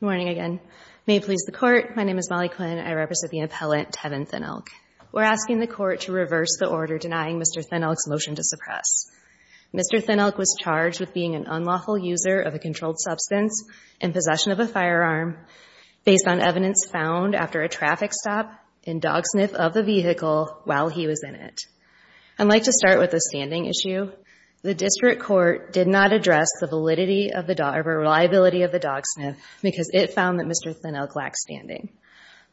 Good morning again. May it please the Court, my name is Molly Quinn. I represent the appellant Tevin Thin Elk. We're asking the Court to reverse the order denying Mr. Thin Elk's motion to suppress. Mr. Thin Elk was charged with being an unlawful user of a controlled substance in possession of a firearm based on evidence found after a traffic stop and dog sniff of a vehicle while he was in it. I'd like to start with the standing issue. The District Court did not address the validity of the reliability of the dog sniff because it found that Mr. Thin Elk lacked standing.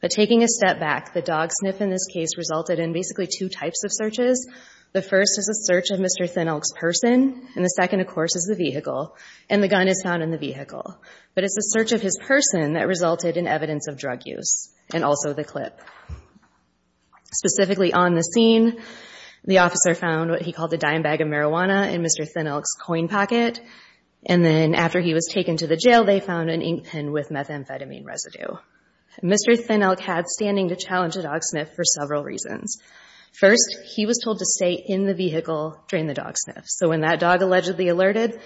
But taking a step back, the dog sniff in this case resulted in basically two types of searches. The first is a search of Mr. Thin Elk's person, and the second, of course, is the vehicle, and the gun is found in the vehicle. But it's the search of his person that resulted in evidence of drug use and also the clip. Specifically on the scene, the officer found what he called a dime bag of marijuana in Mr. Thin Elk's coin pocket, and then after he was taken to the jail, they found an ink pen with methamphetamine residue. Mr. Thin Elk had standing to challenge a dog sniff for several reasons. First, he was told to stay in the vehicle during the dog sniff, so when that dog allegedly alerted,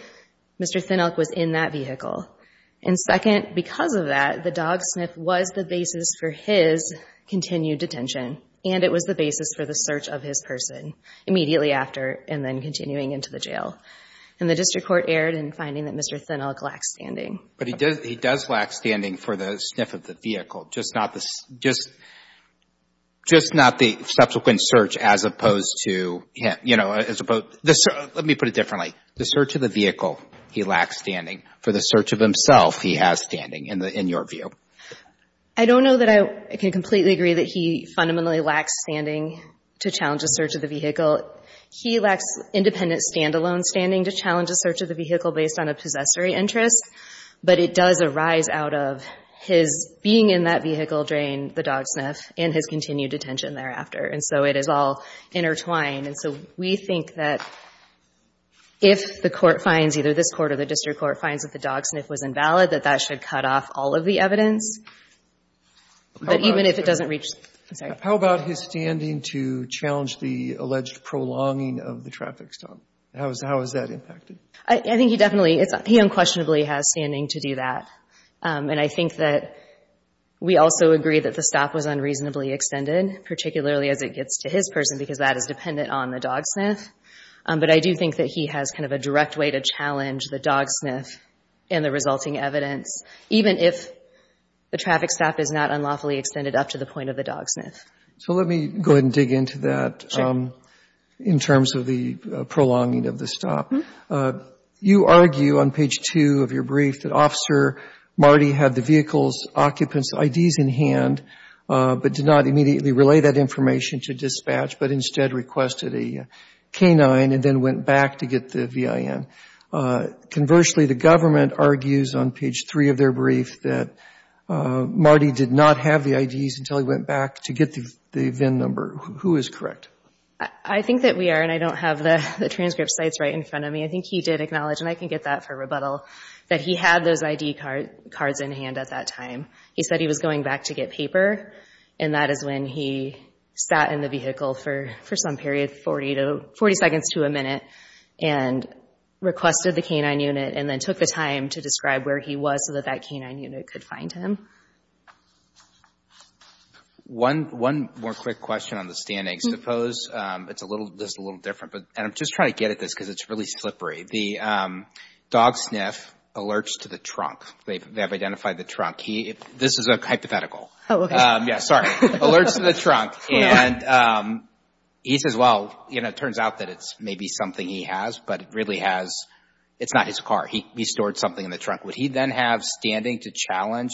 Mr. Thin Elk was in that vehicle. And second, because of that, the dog sniff was the basis for his continued detention, and it was the basis for the search of his person immediately after and then continuing into the jail. And the District Court erred in finding that Mr. Thin Elk lacked standing. But he does lack standing for the sniff of the vehicle, just not the subsequent search as opposed to, you know, as opposed to, let me put it differently, the search of the vehicle, he lacks standing for the search of himself, he has standing in your view. I don't know that I can completely agree that he fundamentally lacks standing to challenge a search of the vehicle. He lacks independent, standalone standing to challenge a search of the vehicle based on a possessory interest, but it does arise out of his being in that vehicle during the dog sniff and his continued detention thereafter, and so it is all intertwined. And so we think that if the Court finds, either this Court or the District Court finds that the dog sniff was invalid, that that should cut off all of the evidence, but even if it doesn't reach, I'm sorry. How about his standing to challenge the alleged prolonging of the traffic stop? How is that impacted? I think he definitely, he unquestionably has standing to do that. And I think that we also agree that the stop was unreasonably extended, particularly as it gets to his person because that is dependent on the dog sniff. But I do think that he has kind of a direct way to challenge the dog sniff and the resulting evidence, even if the traffic stop is not unlawfully extended up to the point of the dog sniff. So let me go ahead and dig into that in terms of the prolonging of the stop. You argue on page 2 of your brief that Officer Marty had the vehicle's occupant's IDs in hand but did not immediately relay that information to dispatch, but instead requested a canine and then went back to get the VIN. Conversely, the government argues on page 3 of their brief that Marty did not have the IDs until he went back to get the VIN number. Who is correct? I think that we are, and I don't have the transcripts right in front of me. I think he did acknowledge, and I can get that for rebuttal, that he had those ID cards in hand at that time. He said he was going back to get paper, and that is when he sat in the vehicle for some period, 40 seconds to a minute, and requested the canine unit and then took the time to describe where he was so that that canine unit could find him. One more quick question on the standings. I suppose it's a little different, and I'm just trying to get at this because it's really slippery. The dog sniff alerts to the trunk. They have identified the trunk. This is a hypothetical. Oh, okay. Yeah, sorry. Alerts to the trunk, and he says, well, it turns out that it's maybe something he has, but it really has, it's not his car. He stored something in the trunk. Would he then have standing to challenge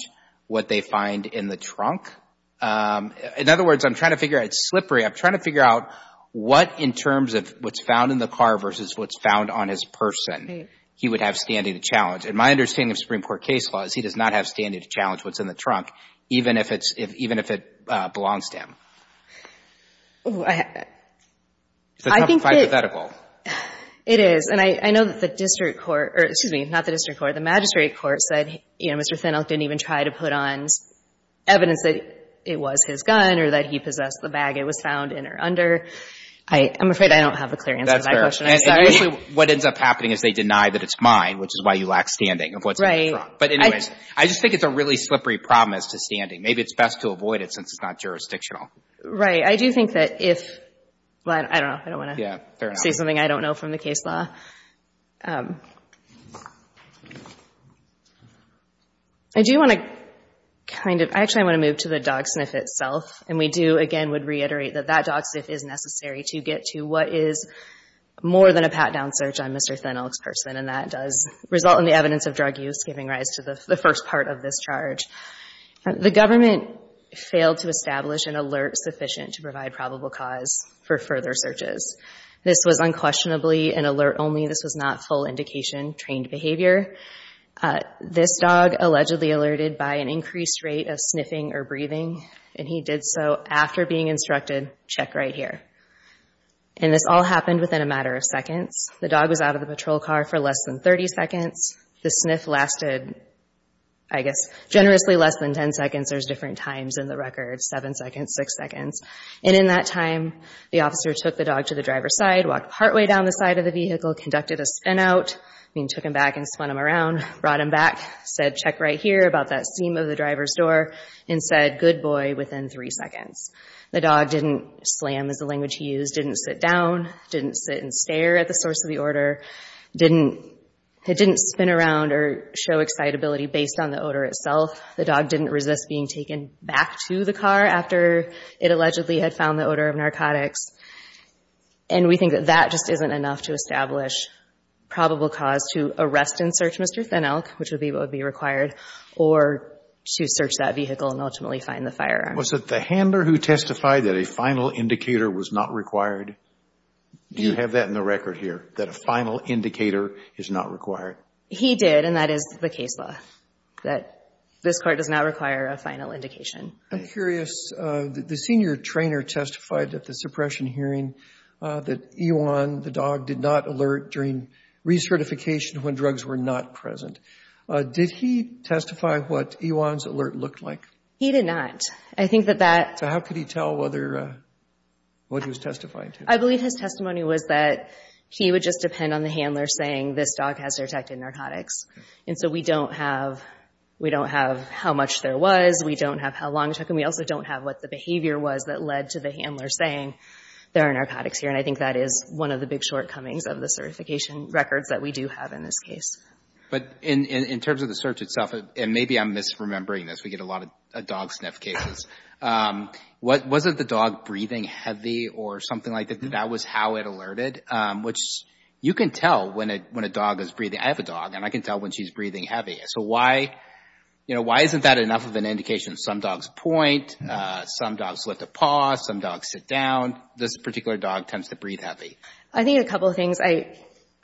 what they find in the trunk? In other words, I'm trying to figure out, it's slippery. I'm trying to figure out what in terms of what's found in the car versus what's found on his person he would have standing to challenge. And my understanding of Supreme Court case law is he does not have standing to challenge what's in the trunk, even if it's, even if it belongs to him. I think that's hypothetical. It is, and I know that the district court, excuse me, not the district court, the magistrate court said, you know, Mr. Fennelk didn't even try to put on evidence that it was his gun or that he possessed the bag it was found in or under. I'm afraid I don't have a clear answer to that question. I'm sorry. And what ends up happening is they deny that it's mine, which is why you lack standing of what's in the trunk. But anyways, I just think it's a really slippery problem as to standing. Maybe it's best to avoid it since it's not jurisdictional. Right. I do think that if, I don't know, I don't want to say something I don't know from the case law. I do want to kind of, actually I want to move to the dog sniff itself. And we do, again, would reiterate that that dog sniff is necessary to get to what is more than a pat-down search on Mr. Fennelk's person. And that does result in the evidence of drug use giving rise to the first part of this charge. The government failed to establish an alert sufficient to provide probable cause for further searches. This was unquestionably an alert only. This was not full indication, trained behavior. This dog allegedly alerted by an increased rate of sniffing or breathing and he did so after being instructed, check right here. And this all happened within a matter of seconds. The dog was out of the patrol car for less than 30 seconds. The sniff lasted, I guess, generously less than 10 seconds. There's different times in the record, seven seconds, six seconds. And in that time, the officer took the dog to the driver's side, walked partway down the side of the vehicle, conducted a spin out, I mean took him back and spun him around, brought him back, said check right here about that seam of the driver's door and said good boy within three seconds. The dog didn't slam as the language he used, didn't sit down, didn't sit and stare at the source of the order, didn't, it didn't spin around or show excitability based on the odor itself. The dog didn't resist being taken back to the car after it allegedly had found the odor of narcotics. And we think that that just isn't enough to establish probable cause to arrest and search Mr. Thin Elk, which would be what would be required, or to search that vehicle and ultimately find the firearm. Was it the handler who testified that a final indicator was not required? Do you have that in the record here, that a final indicator is not required? He did, and that is the case law, that this court does not require a final indication. I'm curious, the senior trainer testified at the suppression hearing that Iwan, the dog, did not alert during recertification when drugs were not present. Did he testify what Iwan's alert looked like? He did not. I think that that... So how could he tell whether, what he was testifying to? I believe his testimony was that he would just depend on the handler saying this dog has detected narcotics. And so we don't have, we don't have how much there was, we don't have how long it took, and we also don't have what the behavior was that led to the handler saying there are narcotics here. And I think that is one of the big shortcomings of the certification records that we do have in this case. But in terms of the search itself, and maybe I'm misremembering this, we get a lot of dog sniff cases. Was it the dog breathing heavy or something like that? That was how it alerted? Which you can tell when a dog is breathing. I have a dog and I can tell when she's breathing heavy. So why, you know, why isn't that enough of an indication? Some dogs point, some dogs lift a paw, some dogs sit down. This particular dog tends to breathe heavy. I think a couple of things.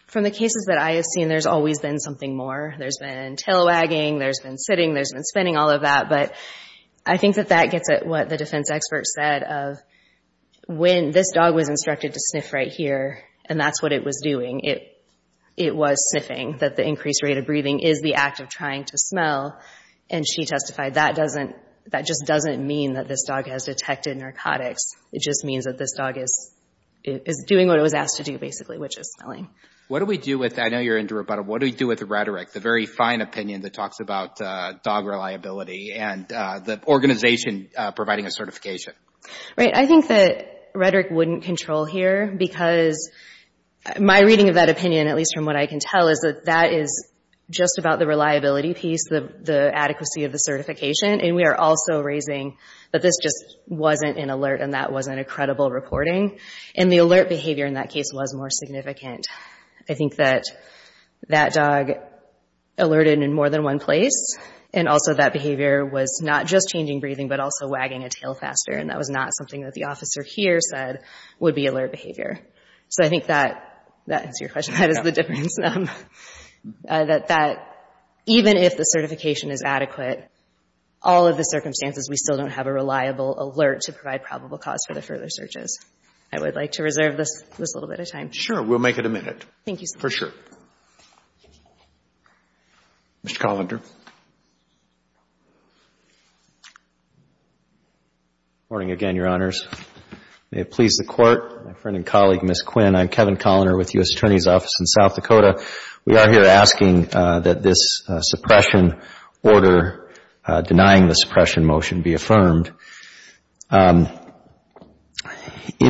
From the cases that I have seen, there's always been something more. There's been tail wagging, there's been sitting, there's been spinning, all of that. But I think that that gets at what the defense expert said of when this dog was instructed to sniff right here and that's what it was doing. It was sniffing, that the increased rate of breathing is the act of trying to smell. And she testified that doesn't, that just doesn't mean that this dog has detected narcotics. It just means that this dog is doing what it was asked to do, basically, which is smelling. What do we do with, I know you're into rebuttal, what do we do with the rhetoric, the very fine opinion that talks about dog reliability and the organization providing a certification? Right, I think that rhetoric wouldn't control here because my reading of that opinion, at least from what I can tell, is that that is just about the reliability piece, the adequacy of the certification. And we are also raising that this just wasn't an alert and that wasn't a credible reporting. And the alert behavior in that case was more significant. I think that that dog alerted in more than one place and also that behavior was not just changing breathing but also wagging a tail faster and that was not something that the officer here said would be alert behavior. So I think that, that answers your question, that is the difference. That even if the certification is adequate, all of the circumstances we still don't have a reliable alert to provide probable cause for the further searches. I would like to reserve this little bit of time. Sure, we'll make it a minute. Thank you, sir. For sure. Mr. Collender. Good morning again, Your Honors. May it please the Court, my friend and colleague, Ms. Quinn. I'm Kevin Collender with the U.S. Attorney's Office in South Dakota. We are here asking that this suppression order denying the suppression motion be affirmed. In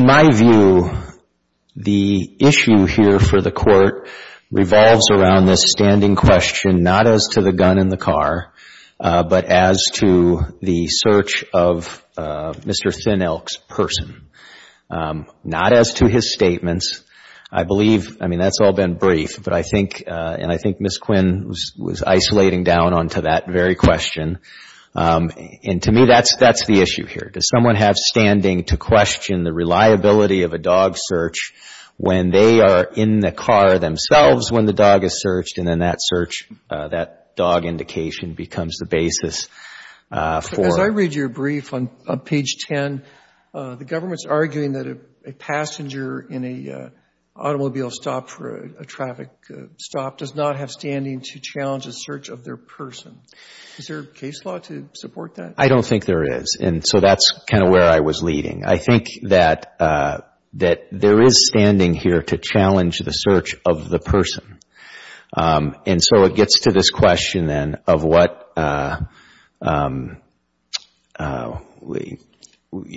my view, the issue here for the Court revolves around this standing question not as to the gun in the car but as to the search of Mr. Thin Elk's person. Not as to his statements. I believe, I mean, that's all been brief, but I think, and I think Ms. Quinn was isolating down onto that very question. And to me, that's the issue here. Does someone have standing to question the reliability of a dog search when they are in the car themselves when the dog is searched and then that search, that dog indication becomes the basis for? As I read your brief on page 10, the government is arguing that a passenger in an automobile stop for a traffic stop does not have standing to challenge a search of their person. Is there a case law to support that? I don't think there is. And so that's kind of where I was leading. I think that there is standing here to challenge the search of the person. And so it gets to this question then of what, you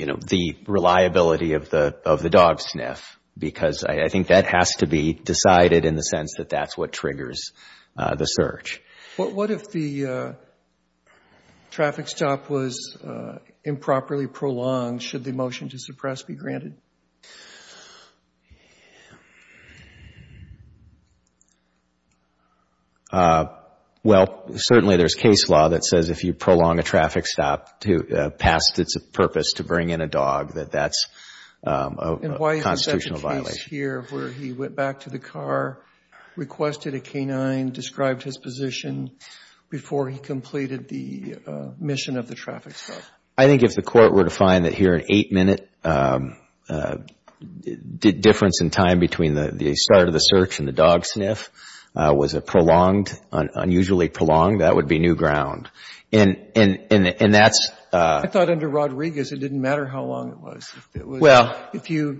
know, the reliability of the dog sniff because I think that has to be decided in the sense that that's what triggers the search. But what if the traffic stop was improperly prolonged? Should the motion to suppress be granted? Well, certainly there's case law that says if you prolong a traffic stop past its purpose to bring in a dog, that that's a constitutional violation. And why is the second case here where he went back to the car, requested a canine, described his position before he completed the mission of the traffic stop? I think if the court were to find that here an 8-minute difference in time between the start of the search and the dog sniff was a prolonged, unusually prolonged, that would be new ground. And that's I thought under Rodriguez it didn't matter how long it was. Well So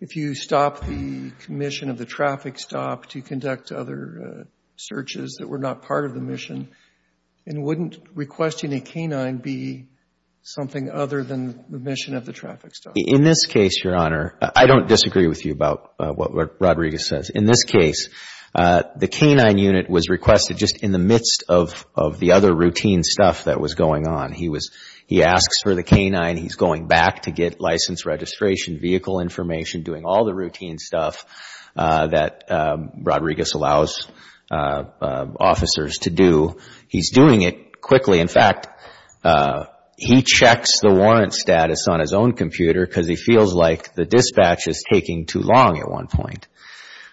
if you stop the mission of the traffic stop to conduct other searches that were not part of the mission, wouldn't requesting a canine be something other than the mission of the traffic stop? In this case, Your Honor, I don't disagree with you about what Rodriguez says. In this case, the canine unit was requested just in the midst of the other routine stuff that was going on. He was he asks for the canine. He's going back to get license registration, vehicle information, doing all the routine stuff that Rodriguez allows officers to do. He's doing it quickly. In fact, he checks the warrant status on his own computer because he feels like the dispatch is taking too long at one point.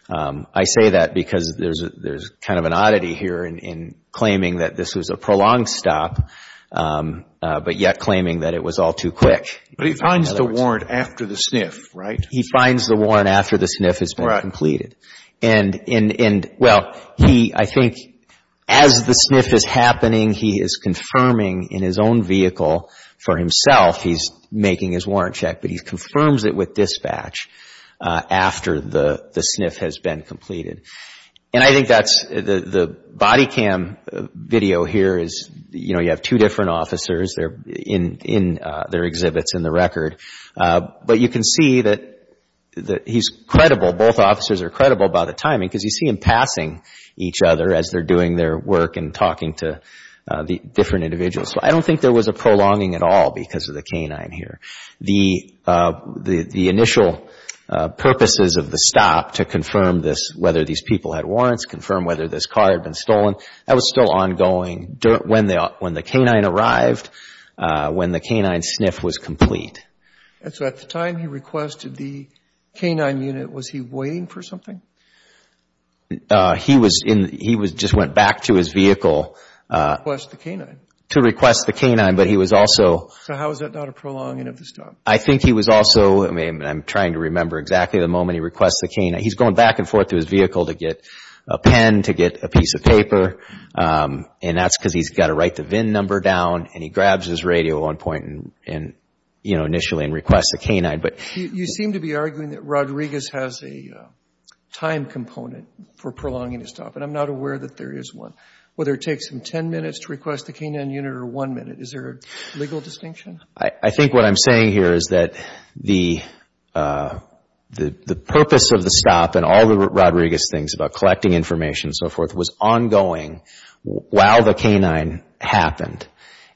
I say that because there's kind of an oddity here in claiming that this was a prolonged stop, but yet claiming that it was all too quick. But he finds the warrant after the sniff, right? He finds the warrant after the sniff has been completed. Right. And, well, he, I think, as the sniff is happening, he is confirming in his own vehicle for himself, he's making his warrant check, but he confirms it with dispatch after the sniff has been completed. And I think that's the body cam video here is, you know, you have two different officers there in their exhibits in the record. But you can see that he's credible. Both officers are credible by the timing because you see him passing each other as they're doing their work and talking to the different individuals. I don't think there was a prolonging at all because of the canine here. The initial purposes of the stop to confirm this, whether these people had warrants, confirm whether this car had been stolen, that was still ongoing when the canine arrived, when the canine sniff was complete. And so at the time he requested the canine unit, was he waiting for something? He was in, he just went back to his vehicle. To request the canine. To request the canine, but he was also... So how is that not a prolonging of the stop? I think he was also, I'm trying to remember exactly the moment he requests the canine. He's going back and forth to his vehicle to get a pen, to get a piece of paper, and that's because he's got to write the VIN number down and he grabs his radio at one point and, you know, initially and requests the canine, but... You seem to be arguing that Rodriguez has a time component for prolonging his stop and I'm not aware that there is one. Whether it takes him ten minutes to request the canine unit or one minute. Is there a legal distinction? I think what I'm saying here is that the purpose of the stop and all the Rodriguez things about collecting information and so forth was ongoing while the canine happened.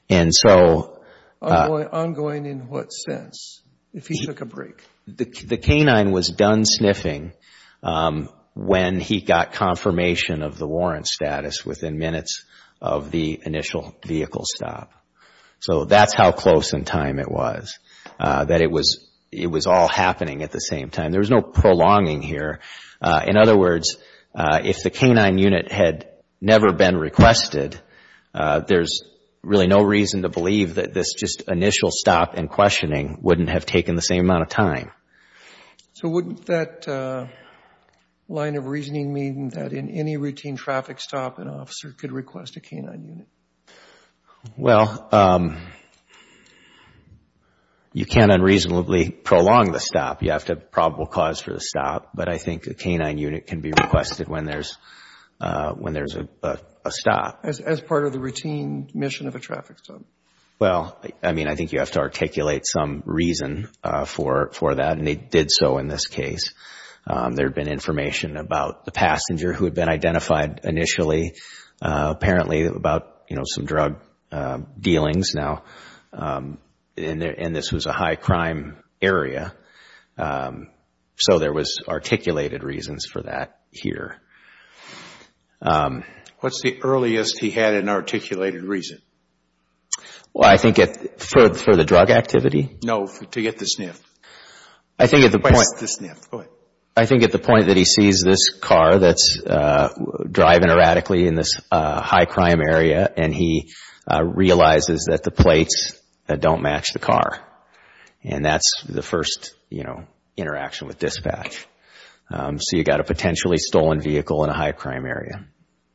And so... Ongoing in what sense? If he took a break? The canine was done sniffing when he got confirmation of the warrant status within minutes of the initial vehicle stop. So that's how close in time it was, that it was all happening at the same time. There was no prolonging here. In other words, if the canine unit had never been requested, there's really no reason to believe that this just initial stop and questioning wouldn't have taken the same amount of time. So wouldn't that line of reasoning mean that in any routine traffic stop an officer could request a canine unit? Well, you can't unreasonably prolong the stop. You have to have probable cause for the stop. But I think a canine unit can be requested when there's a stop. As part of the routine mission of a traffic stop? Well, I mean, I think you have to articulate some reason for that, and they did so in this case. There had been information about the passenger who had been identified initially, apparently about some drug dealings now, and this was a high crime area. So there was articulated reasons for that here. What's the earliest he had an articulated reason? Well, I think for the drug activity? No, to get the sniff. I think at the point... What's the sniff? Go ahead. ...that's driving erratically in this high crime area, and he realizes that the plates don't match the car. And that's the first, you know, interaction with dispatch. So you got a potentially stolen vehicle in a high crime area.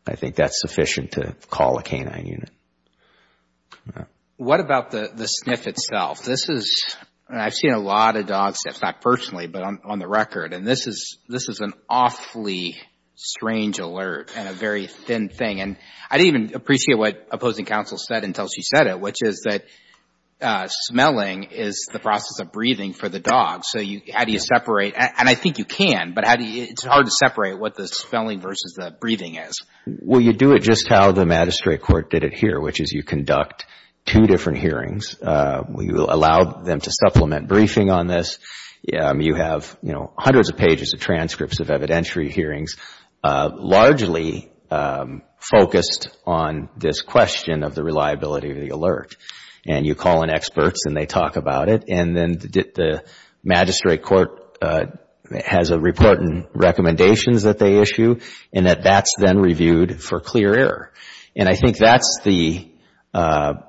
I think that's sufficient to call a canine unit. What about the sniff itself? This is... I've seen a lot of dog sniffs, not personally, but on the record. And this is an awfully strange alert and a very thin thing. And I didn't even appreciate what opposing counsel said until she said it, which is that smelling is the process of breathing for the dog. So how do you separate? And I think you can, but it's hard to separate what the smelling versus the breathing is. Well, you do it just how the magistrate court did it here, which is you conduct two different hearings. You allow them to supplement briefing on this. You have, you know, hundreds of pages of transcripts of evidentiary hearings, largely focused on this question of the reliability of the alert. And you call in experts and they talk about it. And then the magistrate court has a report and recommendations that they issue, and that that's then reviewed for clear error. And I think that's the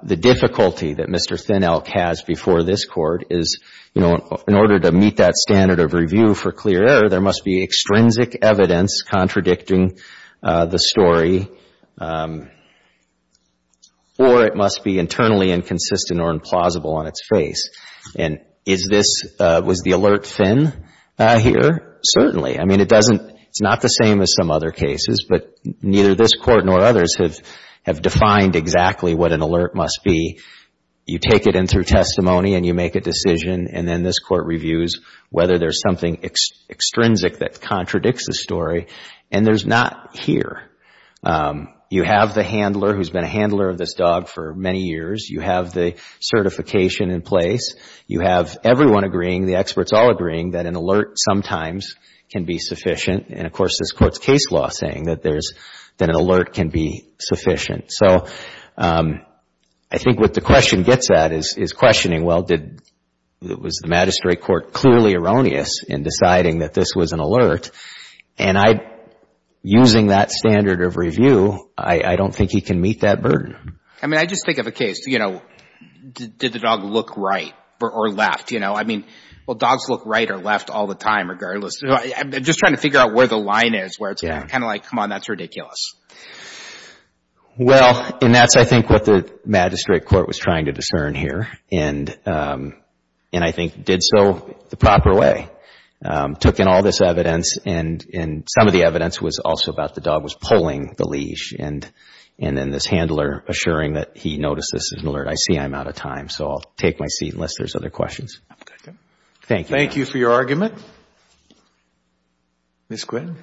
difficulty that Mr. Thin Elk has before this court, is, you know, in order to meet that standard of review for clear error, there must be extrinsic evidence contradicting the story, or it must be internally inconsistent or implausible on its face. And is this, was the alert thin here? Certainly. I mean, it doesn't, it's not the same as some other cases, but neither this court nor others have defined exactly what an alert must be. You take it in through testimony and you make a decision, and then this court reviews whether there's something extrinsic that contradicts the story. And there's not here. You have the handler who's been a handler of this dog for many years. You have the certification in place. You have everyone agreeing, the experts all agreeing, that an alert sometimes can be sufficient. And of course, this court's case law saying that there's, that an alert can be sufficient. So I think what the question gets at is questioning, well, did, was the magistrate court clearly erroneous in deciding that this was an alert? And I, using that standard of review, I don't think he can meet that burden. I mean, I just think of a case, you know, did the dog look right or left? You know, I mean, well, dogs look right or left all the time regardless. I'm just trying to figure out where the line is, where it's kind of like, come on, that's ridiculous. Well, and that's, I think, what the magistrate court was trying to discern here. And I think did so the proper way. Took in all this evidence and some of the evidence was also about the dog was pulling the leash. And then this handler assuring that he noticed this is an alert. I see I'm out of time, so I'll take my seat unless there's other questions. Thank you. Thank you for your argument. Ms. Quinn.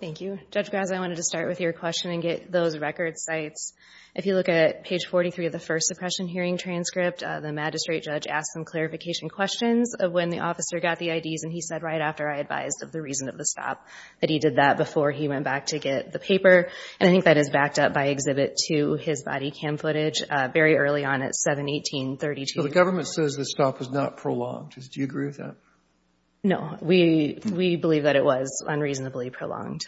Thank you, Judge Graza. I wanted to start with your question and get those record sites. If you look at page 43 of the first suppression hearing transcript, the magistrate judge asked some clarification questions of when the officer got the IDs. And he said right after I advised of the reason of the stop that he did that before he went back to get the paper. And I think that is backed up by exhibit two, his body cam footage, very early on at 7-18-32. So the government says the stop was not prolonged. Do you agree with that? No, we believe that it was unreasonably prolonged.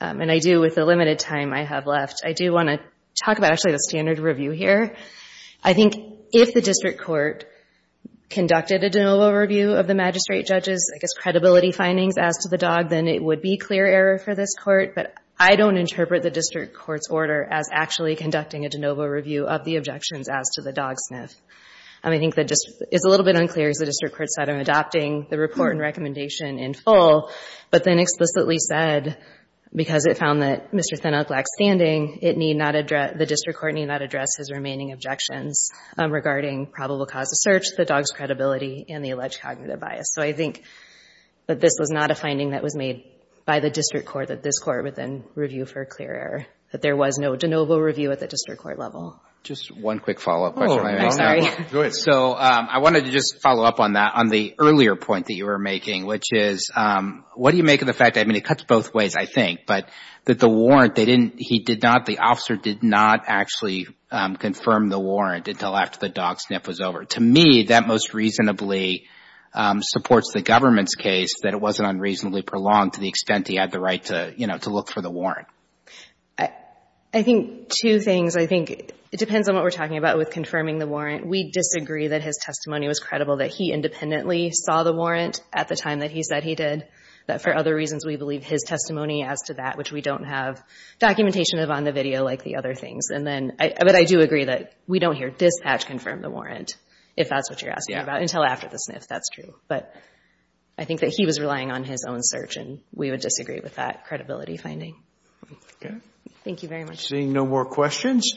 And I do, with the limited time I have left, I do want to talk about, actually, the standard review here. I think if the district court conducted a de novo review of the magistrate judge's, I guess, credibility findings as to the dog, then it would be clear error for this court. But I don't interpret the district court's order as actually conducting a de novo review of the objections as to the dog sniff. And I think that it's a little bit unclear, as the district court said, I'm adopting the report and recommendation in full. But then explicitly said, because it found that Mr. Thinock lacked standing, it need not address, the district court need not address his remaining objections regarding probable cause of search, the dog's credibility, and the alleged cognitive bias. So I think that this was not a finding that was made by the district court that this court would then review for clear error, that there was no de novo review at the district court level. Just one quick follow-up question, if I may. Oh, go ahead. So I wanted to just follow up on that, on the earlier point that you were making, which is, what do you make of the fact that, I mean, it cuts both ways, I think, but that the warrant, they didn't, he did not, the officer did not actually confirm the warrant until after the dog sniff was over. To me, that most reasonably supports the government's case, that it wasn't unreasonably prolonged to the extent that he had the right to, you know, to look for the warrant. I think two things. I think it depends on what we're talking about with confirming the warrant. We disagree that his testimony was credible, that he independently saw the warrant at the time that he said he did, that for other reasons, we believe his testimony as to that, which we don't have documentation of on the video like the other things. And then, but I do agree that we don't hear dispatch confirm the warrant, if that's what you're asking about, until after the sniff, that's true. But I think that he was relying on his own search, and we would disagree with that credibility finding. Thank you very much. Seeing no more questions.